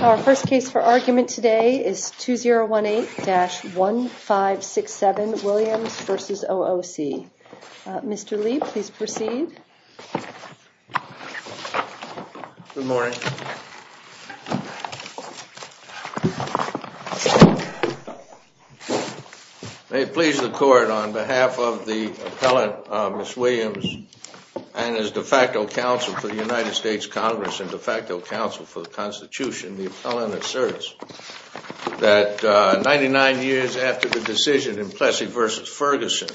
Our first case for argument today is 2018-1567 Williams v. OOC. Mr. Lee, please proceed. Good morning. May it please the court, on behalf of the appellant, Ms. Williams, and as de facto counsel for the United States Congress and de facto counsel for the Constitution, the appellant asserts that 99 years after the decision in Plessy v. Ferguson,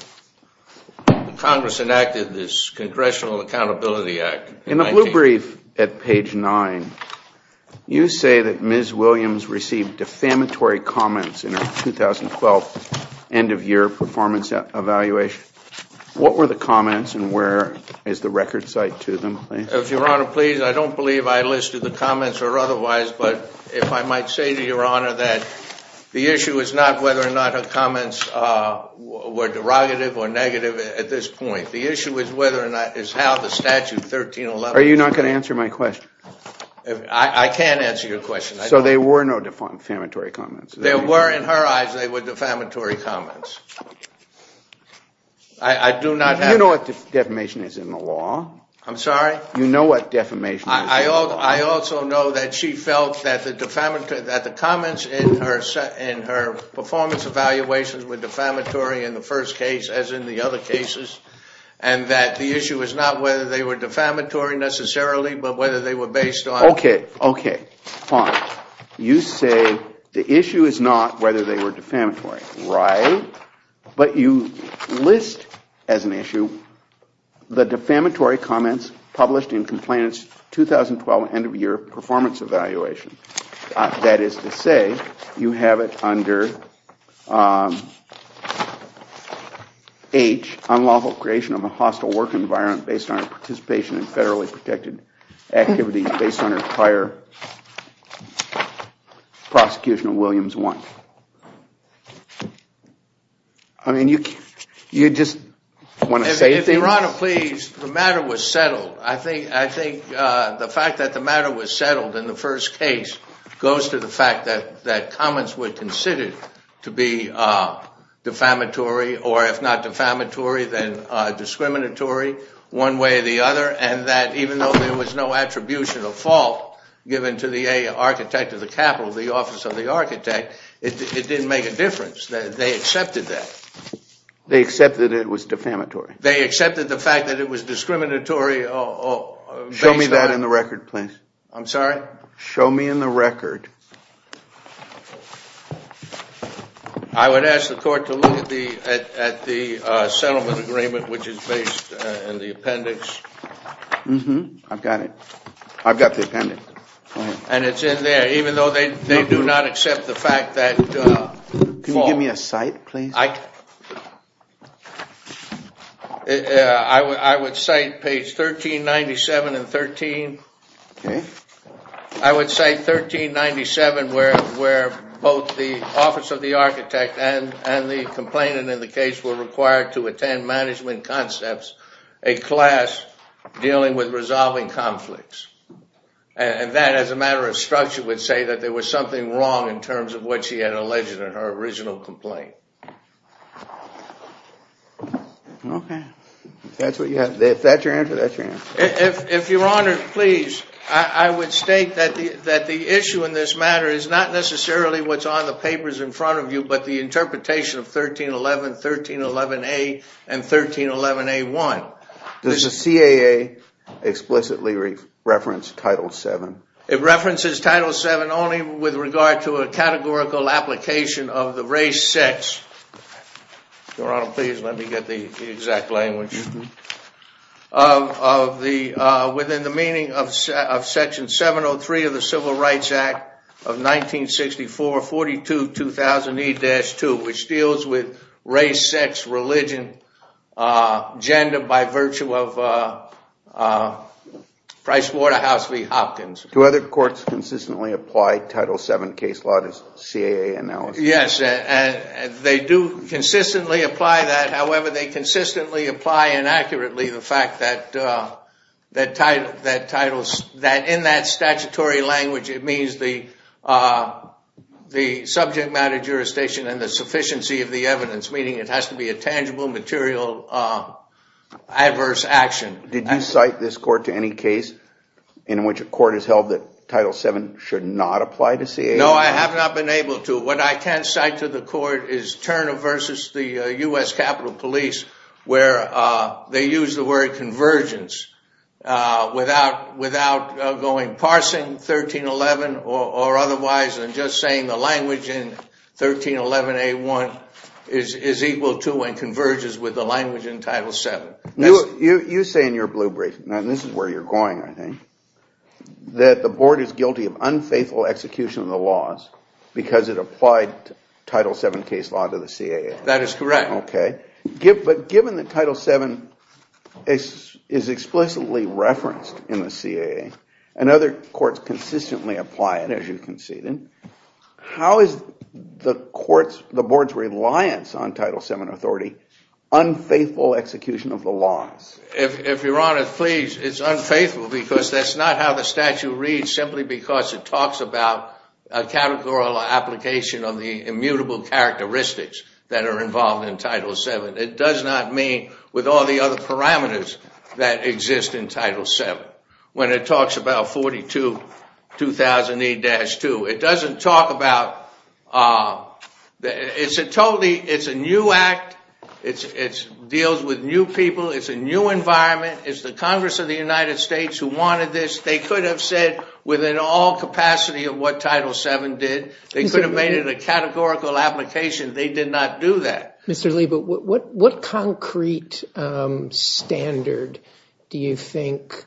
Congress enacted this Congressional Accountability Act. In the blue brief at page 9, you say that Ms. Williams received defamatory comments in her 2012 end-of-year performance evaluation. What were the comments, and where is the record cite to them, please? If Your Honor pleases, I don't believe I listed the comments or otherwise, but if I might say to Your Honor that the issue is not whether or not her comments were derogative or negative at this point. The issue is whether or not, is how the statute 1311 Are you not going to answer my question? I can't answer your question. So there were no defamatory comments? There were, in her eyes, they were defamatory comments. I do not have You know what defamation is in the law. I'm sorry? You know what defamation is in the law. I also know that she felt that the comments in her performance evaluations were defamatory in the first case, as in the other cases, and that the issue is not whether they were defamatory necessarily, but whether they were based on Okay, okay, fine. You say the issue is not whether they were defamatory, right? But you list as an issue the defamatory comments published in Complainant's 2012 end-of-year performance evaluation. That is to say, you have it under H, unlawful creation of a hostile work environment based on her participation in federally protected activities based on her prior prosecution of Williams 1. I mean, you just want to say anything? Your Honor, please, the matter was settled. I think the fact that the matter was settled in the first case goes to the fact that comments were considered to be defamatory, or if not defamatory, one way or the other, and that even though there was no attribution of fault given to the architect of the capital, the office of the architect, it didn't make a difference. They accepted that. They accepted it was defamatory? They accepted the fact that it was discriminatory based on Show me that in the record, please. I'm sorry? Show me in the record. I would ask the court to look at the settlement agreement, which is based in the appendix. I've got it. I've got the appendix. And it's in there, even though they do not accept the fact that I would cite page 1397 and 13. I would say 1397, where both the office of the architect and the complainant in the case were required to attend management concepts, a class dealing with resolving conflicts. And that, as a matter of structure, would say that there was something wrong in terms of what she had alleged in her original complaint. OK. If that's what you have, if that's your answer, that's your answer. If Your Honor, please, I would state that the issue in this matter is not necessarily what's on the papers in front of you, but the interpretation of 1311, 1311A, and 1311A1. Does the CAA explicitly reference Title VII? It references Title VII only with regard to a categorical application of the Race-Sex, Your Honor, please let me get the exact language, within the meaning of Section 703 of the Civil Rights Act of 1964-42-2008-2, which deals with race, sex, religion, gender, by virtue of Price-Waterhouse v. Hopkins. Do other courts consistently apply Title VII case law to CAA analysis? Yes, they do consistently apply that. However, they consistently apply inaccurately the fact that in that statutory language, it means the subject matter jurisdiction and the sufficiency of the evidence, meaning it has to be a tangible, material, adverse action. Did you cite this court to any case in which a court has held that Title VII should not apply to CAA? No, I have not been able to. What I can cite to the court is Turner v. the U.S. Capitol Police, where they use the word convergence without going parsing 1311 or otherwise, and just saying the language in 1311A1 is equal to and converges with the language in Title VII. You say in your blue brief, and this is where you're going, I think, that the Board is guilty of unfaithful execution of the laws because it applied Title VII case law to the CAA. That is correct. Okay. But given that Title VII is explicitly referenced in the CAA, and other courts consistently apply it, as you conceded, how is the Board's reliance on Title VII authority unfaithful execution of the laws? If Your Honor, please, it's unfaithful because that's not how the statute reads simply because it talks about a categorical application of the immutable characteristics that are involved in Title VII. It does not mean with all the other parameters that exist in Title VII. When it talks about 42-2008-2, it doesn't talk about, it's a totally, it's a new act. It deals with new people. It's a new environment. It's the Congress of the United States who wanted this. They could have said within all capacity of what Title VII did. They could have made it a categorical application. They did not do that. Mr. Lee, but what concrete standard do you think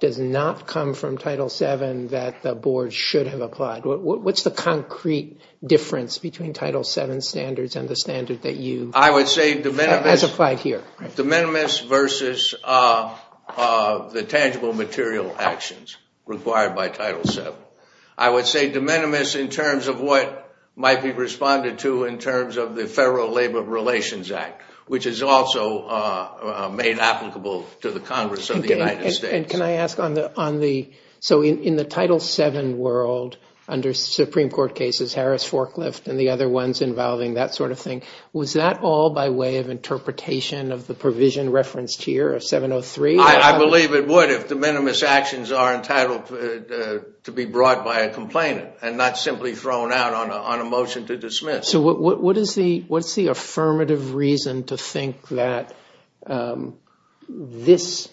does not come from Title VII that the Board should have applied? What's the concrete difference between Title VII standards and the standard that you have applied here? I would say de minimis versus the tangible material actions required by Title VII. I would say de minimis in terms of what might be responded to in terms of the Federal Labor Relations Act, which is also made applicable to the Congress of the United States. Can I ask on the, so in the Title VII world under Supreme Court cases, Harris Forklift and the other ones involving that sort of thing, was that all by way of interpretation of the provision referenced here of 703? I believe it would if de minimis actions are entitled to be brought by a complainant and not simply thrown out on a motion to dismiss. So what is the affirmative reason to think that this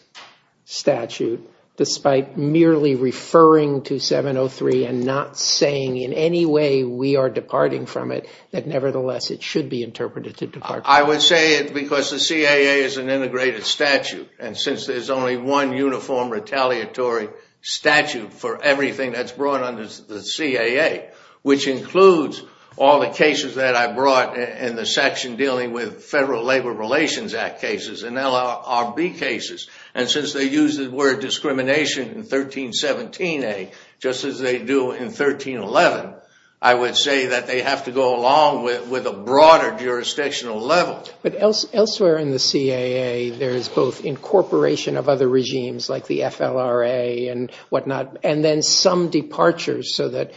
statute, despite merely referring to 703 and not saying in any way we are departing from it, that nevertheless it should be interpreted to depart from it? I would say it's because the CAA is an integrated statute, and since there's only one uniform retaliatory statute for everything that's brought under the CAA, which includes all the cases that I brought in the section dealing with Federal Labor Relations Act cases and LRB cases. And since they use the word discrimination in 1317a, just as they do in 1311, I would say that they have to go along with a broader jurisdictional level. But elsewhere in the CAA, there's both incorporation of other regimes like the FLRA and whatnot, and then some departures so that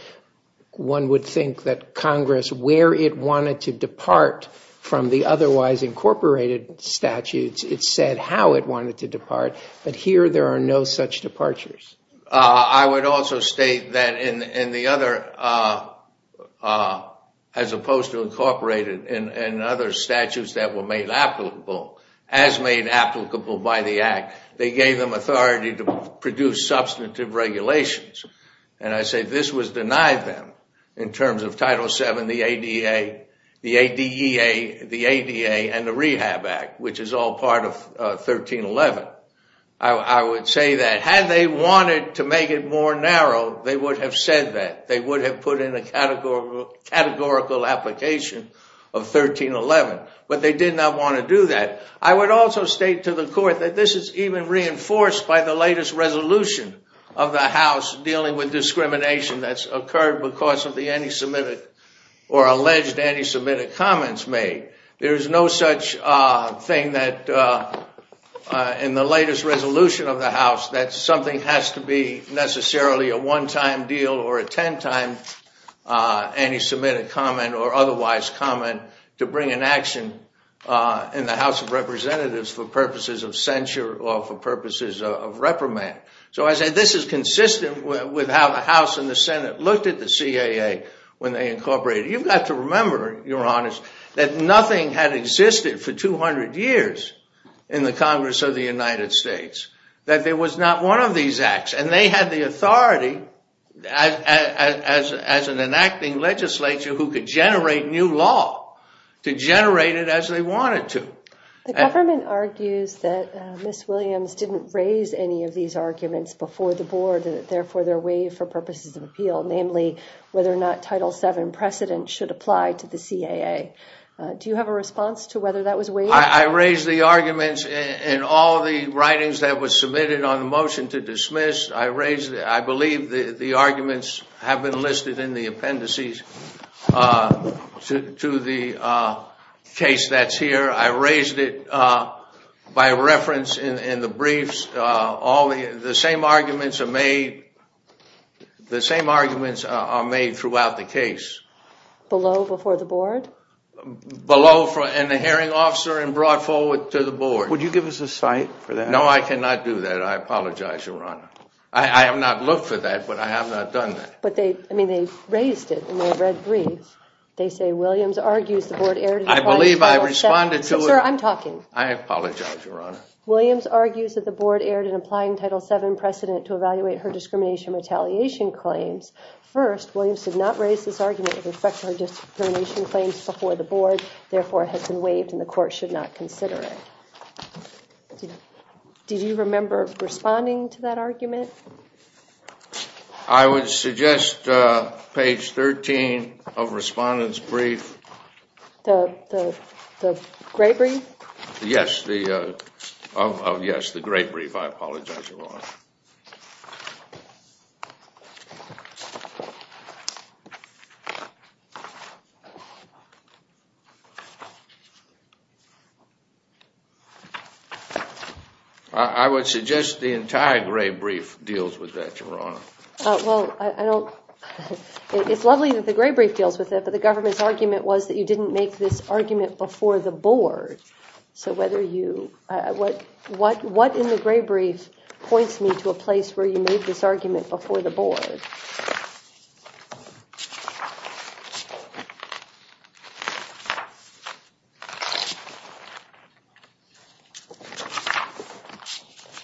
one would think that Congress, where it wanted to depart from the otherwise incorporated statutes, it said how it wanted to depart, but here there are no such departures. I would also state that in the other, as opposed to incorporated in other statutes that were made applicable, as made applicable by the Act, they gave them authority to produce substantive regulations. And I say this was denied them in terms of Title VII, the ADA, the ADEA, the ADA, and the Rehab Act, which is all part of 1311. I would say that had they wanted to make it more narrow, they would have said that. They would have put in a categorical application of 1311. But they did not want to do that. I would also state to the Court that this is even reinforced by the latest resolution of the House dealing with discrimination that's occurred because of the anti-Semitic or alleged anti-Semitic comments made. There's no such thing that in the latest resolution of the House that something has to be necessarily a one-time deal or a ten-time anti-Semitic comment or otherwise comment to bring an action in the House of Representatives for purposes of censure or for purposes of reprimand. So I say this is consistent with how the House and the Senate looked at the CAA when they incorporated. You've got to remember, Your Honors, that nothing had existed for 200 years in the Congress of the United States, that there was not one of these acts. And they had the authority as an enacting legislature who could generate new law to generate it as they wanted to. The government argues that Ms. Williams didn't raise any of these arguments before the Board therefore they're waived for purposes of appeal, namely whether or not Title VII precedent should apply to the CAA. Do you have a response to whether that was waived? I raised the arguments in all the writings that were submitted on the motion to dismiss. I believe the arguments have been listed in the appendices to the case that's here. I raised it by reference in the briefs. The same arguments are made throughout the case. Below before the Board? Below in the hearing officer and brought forward to the Board. Would you give us a cite for that? No, I cannot do that. I apologize, Your Honor. I have not looked for that, but I have not done that. But they raised it in the red briefs. They say Williams argues the Board erred in applying to Title VII. I believe I responded to it. Sir, I'm talking. I apologize, Your Honor. Williams argues that the Board erred in applying Title VII precedent to evaluate her discrimination retaliation claims. First, Williams did not raise this argument with respect to her discrimination claims before the Board, therefore it has been waived and the Court should not consider it. Did you remember responding to that argument? I would suggest page 13 of Respondent's Brief. The gray brief? Yes, the gray brief. I apologize, Your Honor. I would suggest the entire gray brief deals with that, Your Honor. Well, it's lovely that the gray brief deals with it, but the government's argument was that you didn't make this argument before the Board. So what in the gray brief points me to a place where you made this argument before the Board?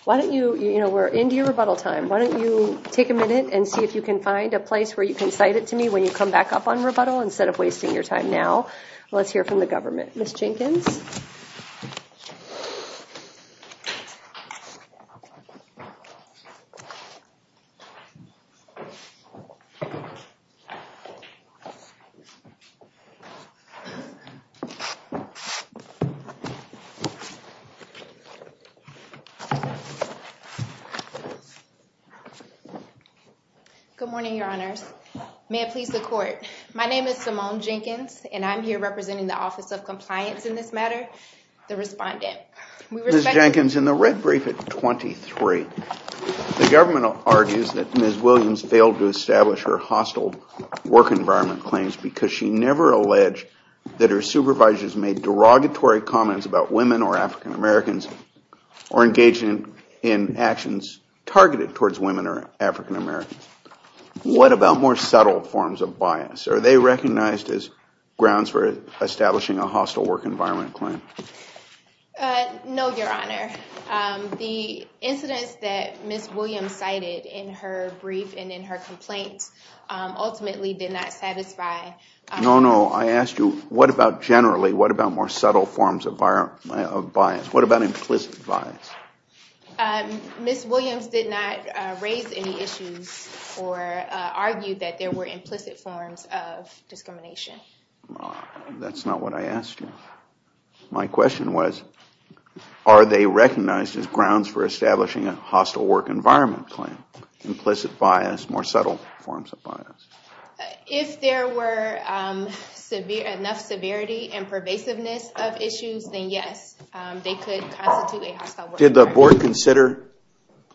Why don't you, we're into your rebuttal time, why don't you take a minute and see if you can find a place where you can cite it to me when you come back up on rebuttal instead of wasting your time now. Let's hear from the government. Ms. Jenkins? Good morning, Your Honors. May it please the Court. My name is Simone Jenkins, and I'm here representing the Office of Compliance in this matter, the Ms. Jenkins, in the red brief at 23, the government argues that Ms. Williams failed to establish her hostile work environment claims because she never alleged that her supervisors made derogatory comments about women or African-Americans or engaged in actions targeted towards women or African-Americans. What about more subtle forms of bias? Are they recognized as grounds for establishing a hostile work environment claim? No, Your Honor. The incidents that Ms. Williams cited in her brief and in her complaint ultimately did not satisfy. No, no. I asked you, what about generally, what about more subtle forms of bias? What about implicit bias? Ms. Williams did not raise any issues or argue that there were implicit forms of discrimination. That's not what I asked you. My question was, are they recognized as grounds for establishing a hostile work environment claim? Implicit bias, more subtle forms of bias. If there were enough severity and pervasiveness of issues, then yes, they could constitute Did the board consider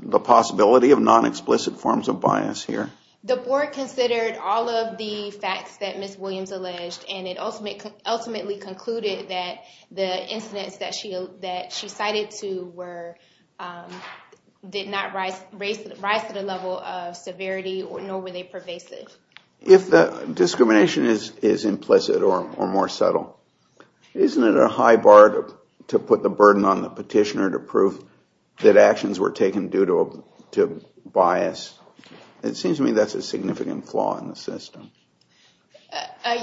the possibility of non-explicit forms of bias here? The board considered all of the facts that Ms. Williams alleged and it ultimately concluded that the incidents that she cited to were, did not rise to the level of severity nor were they pervasive. If the discrimination is implicit or more subtle, isn't it a high bar to put the burden on the petitioner to prove that actions were taken due to bias? It seems to me that's a significant flaw in the system.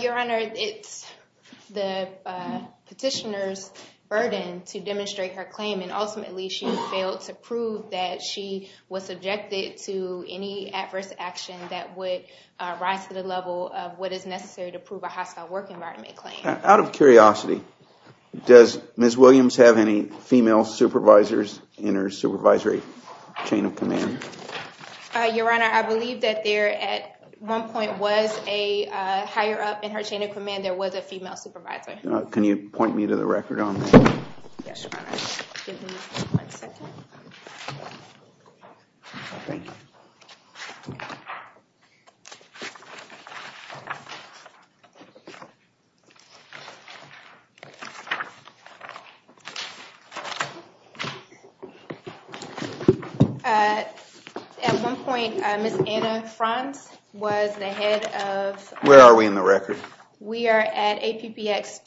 Your Honor, it's the petitioner's burden to demonstrate her claim and ultimately she failed to prove that she was subjected to any adverse action that would rise to the level of what is necessary to prove a hostile work environment claim. Out of curiosity, does Ms. Williams have any female supervisors in her supervisory chain of command? Your Honor, I believe that there at one point was a higher up in her chain of command, there was a female supervisor. Can you point me to the record on that? Yes, Your Honor. Give me one second. Thank you. At one point, Ms. Anna Franz was the head of... Where are we in the record? We are at APBX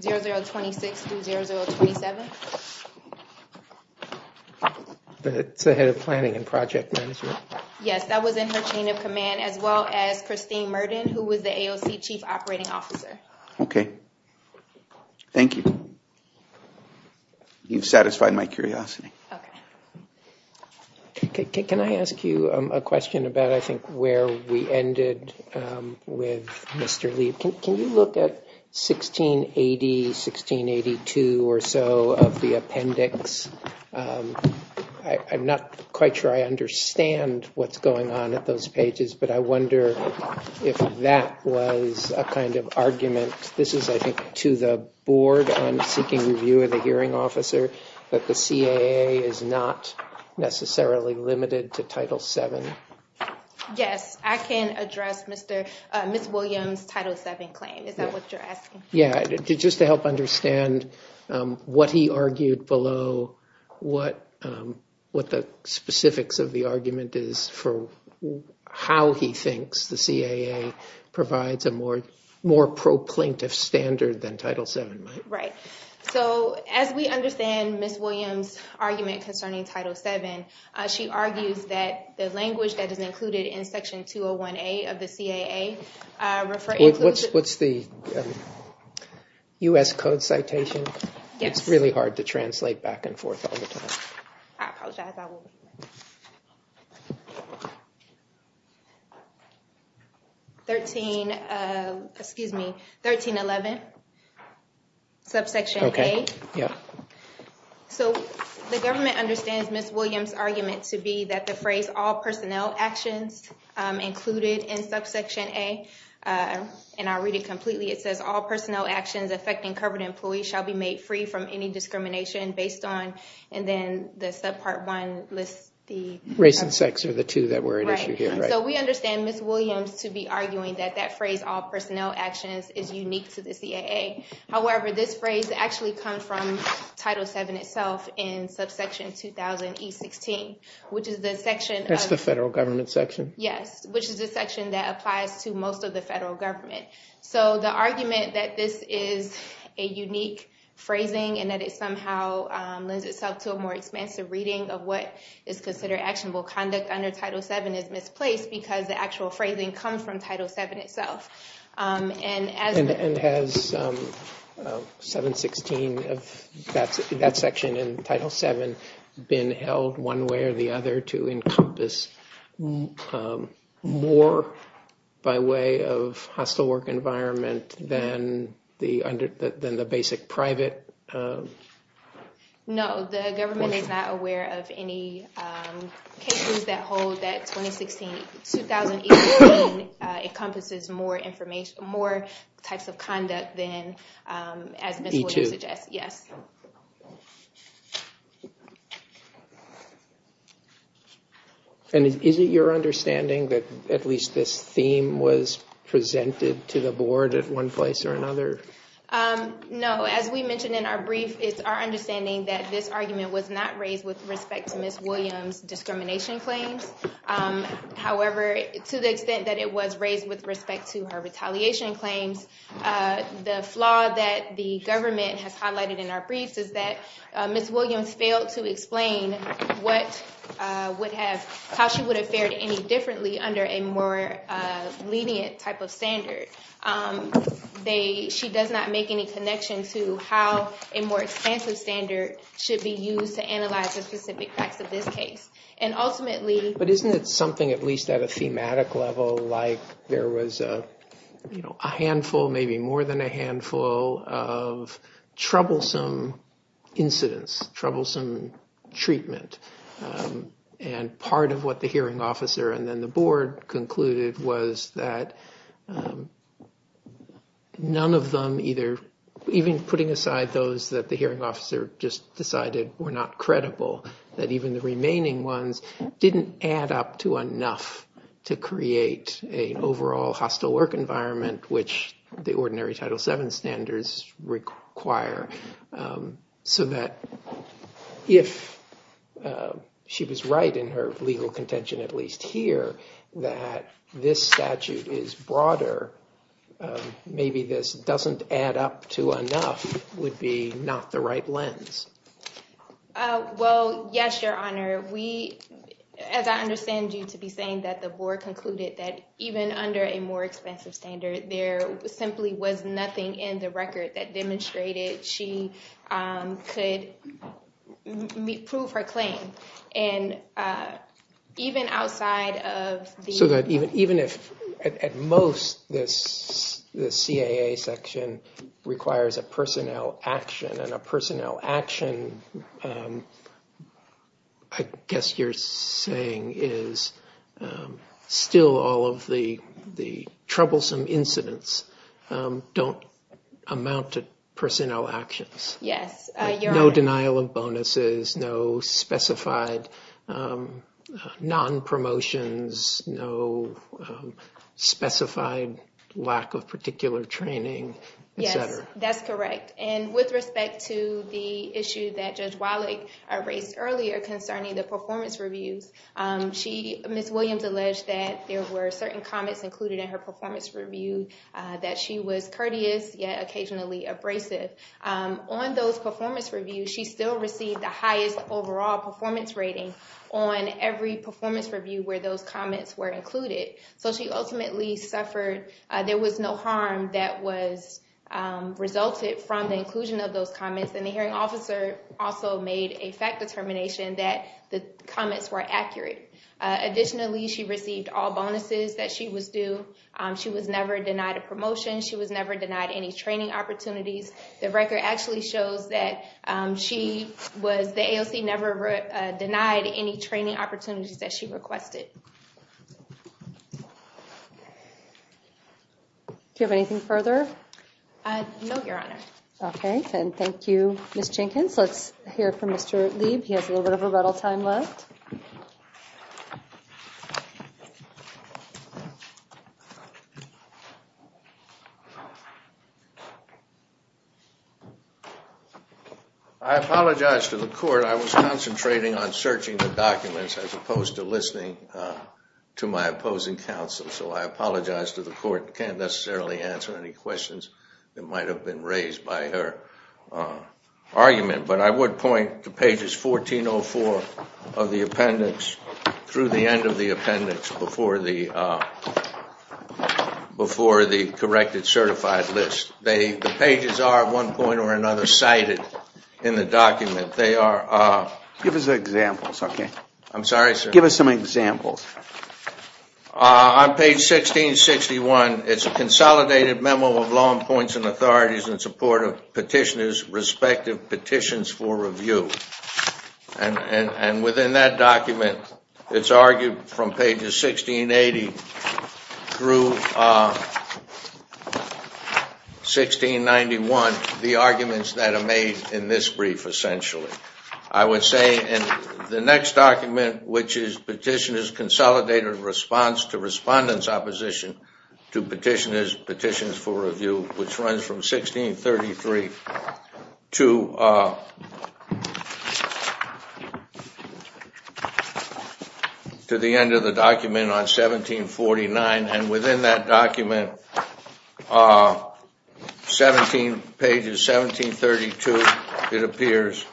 2006-0027. That's the head of planning and project management. Yes, that was in her chain of command as well as Christine Murden who was the AOC chief operating officer. Okay. Thank you. You've satisfied my curiosity. Okay. Can I ask you a question about I think where we ended with Mr. Lee? Can you look at 1680, 1682 or so of the appendix? I'm not quite sure I understand what's going on at those pages, but I wonder if that was a kind of argument. This is, I think, to the board on seeking review of the hearing officer that the CAA is not necessarily limited to Title VII. Yes, I can address Ms. Williams' Title VII claim. Is that what you're asking? Yeah. Just to help understand what he argued below, what the specifics of the argument is for how he thinks the CAA provides a more pro-plaintiff standard than Title VII might. Right. So, as we understand Ms. Williams' argument concerning Title VII, she argues that the language that is included in Section 201A of the CAA refers to... What's the U.S. Code citation? Yes. It's really hard to translate back and forth all the time. I apologize. 13, excuse me, 1311, subsection A. Okay. Yeah. So, the government understands Ms. Williams' argument to be that the phrase all personnel actions included in subsection A, and I'll read it completely. It says, all personnel actions affecting covered employees shall be made free from any discrimination based on... And then the subpart one lists the... Race and sex are the two that were at issue here. Right. So, we understand Ms. Williams to be arguing that that phrase, all personnel actions, is unique to the CAA. However, this phrase actually comes from Title VII itself in subsection 2000E16, which is the section... That's the federal government section. Yes, which is the section that applies to most of the federal government. So, the argument that this is a unique phrasing and that it somehow lends itself to a more expansive reading of what is considered actionable conduct under Title VII is misplaced because the actual phrasing comes from Title VII itself. And as... And has 716, that section in Title VII, been held one way or the other to encompass more by way of hostile work environment than the basic private... No, the government is not aware of any cases that hold that 2016, 2000E16 encompasses more information, more types of conduct than, as Ms. Williams suggests. E2. Yes. And is it your understanding that at least this theme was presented to the board at one place or another? No. As we mentioned in our brief, it's our understanding that this argument was not raised with respect to Ms. Williams' discrimination claims. However, to the extent that it was raised with respect to her retaliation claims, the flaw that the government has highlighted in our briefs is that Ms. Williams failed to explain what would have... How she would have fared any differently under a more lenient type of standard. They... She does not make any connection to how a more expansive standard should be used to analyze the specific facts of this case. And ultimately... But isn't it something, at least at a thematic level, like there was a handful, maybe more than a handful of troublesome incidents, troublesome treatment. And part of what the hearing officer and then the board concluded was that none of them either... Even putting aside those that the hearing officer just decided were not credible, that even the remaining ones didn't add up to enough to create an overall hostile work environment which the ordinary Title VII standards require. So that if she was right in her legal contention, at least here, that this statute is broader, maybe this doesn't add up to enough would be not the right lens. Well, yes, Your Honor. We... As I understand you to be saying that the board concluded that even under a more expensive standard, there simply was nothing in the record that demonstrated she could prove her claim. And even outside of the... So that even if... At most, this CAA section requires a personnel action and a personnel action, I guess you're saying is still all of the troublesome incidents don't amount to personnel actions. Yes, Your Honor. No denial of bonuses, no specified non-promotions, no specified lack of particular training, et cetera. Yes, that's correct. And with respect to the issue that Judge Wallach raised earlier concerning the performance reviews, Ms. Williams alleged that there were certain comments included in her performance review that she was courteous, yet occasionally abrasive. On those performance reviews, she still received the highest overall performance rating on every performance review where those comments were included. So she ultimately suffered... There was no harm that was resulted from the inclusion of those comments. And the hearing officer also made a fact determination that the comments were accurate. Additionally, she received all bonuses that she was due. She was never denied a promotion. She was never denied any training opportunities. The record actually shows that she was... The AOC never denied any training opportunities that she requested. Do you have anything further? No, Your Honor. Okay. And thank you, Ms. Jenkins. Let's hear from Mr. Lieb. He has a little bit of a rattle time left. I apologize to the court. I was concentrating on searching the documents as opposed to listening to my opposing counsel. So I apologize to the court. I can't necessarily answer any questions that might have been raised by her argument. But I would point to pages 1404 of the appendix through the end of the appendix before the corrected certified list. The pages are, at one point or another, cited in the document. They are... Give us examples, okay? I'm sorry, sir? Give us some examples. On page 1661, it's a consolidated memo of law and points and authorities in support of petitioners' respective petitions for review. And within that document, it's argued from pages 1680 through 1691, the arguments that are made in this brief, essentially. I would say in the next document, which is Petitioner's Consolidated Response to Respondents' Opposition to Petitioners' Petitions for Review, which runs from 1633 to the end of the document on 1749. And within that document, 17 pages, 1732, it appears.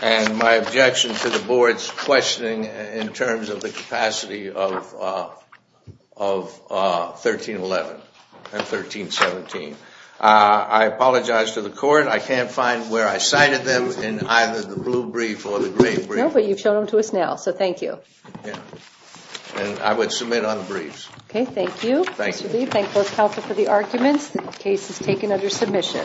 And my objection to the board's questioning in terms of the capacity of 1311 and 1317. I apologize to the court. I can't find where I cited them in either the blue brief or the gray brief. No, but you've shown them to us now, so thank you. And I would submit on the briefs. Okay, thank you. Thank you. Thank both counsel for the arguments. The case is taken under submission. Thank you.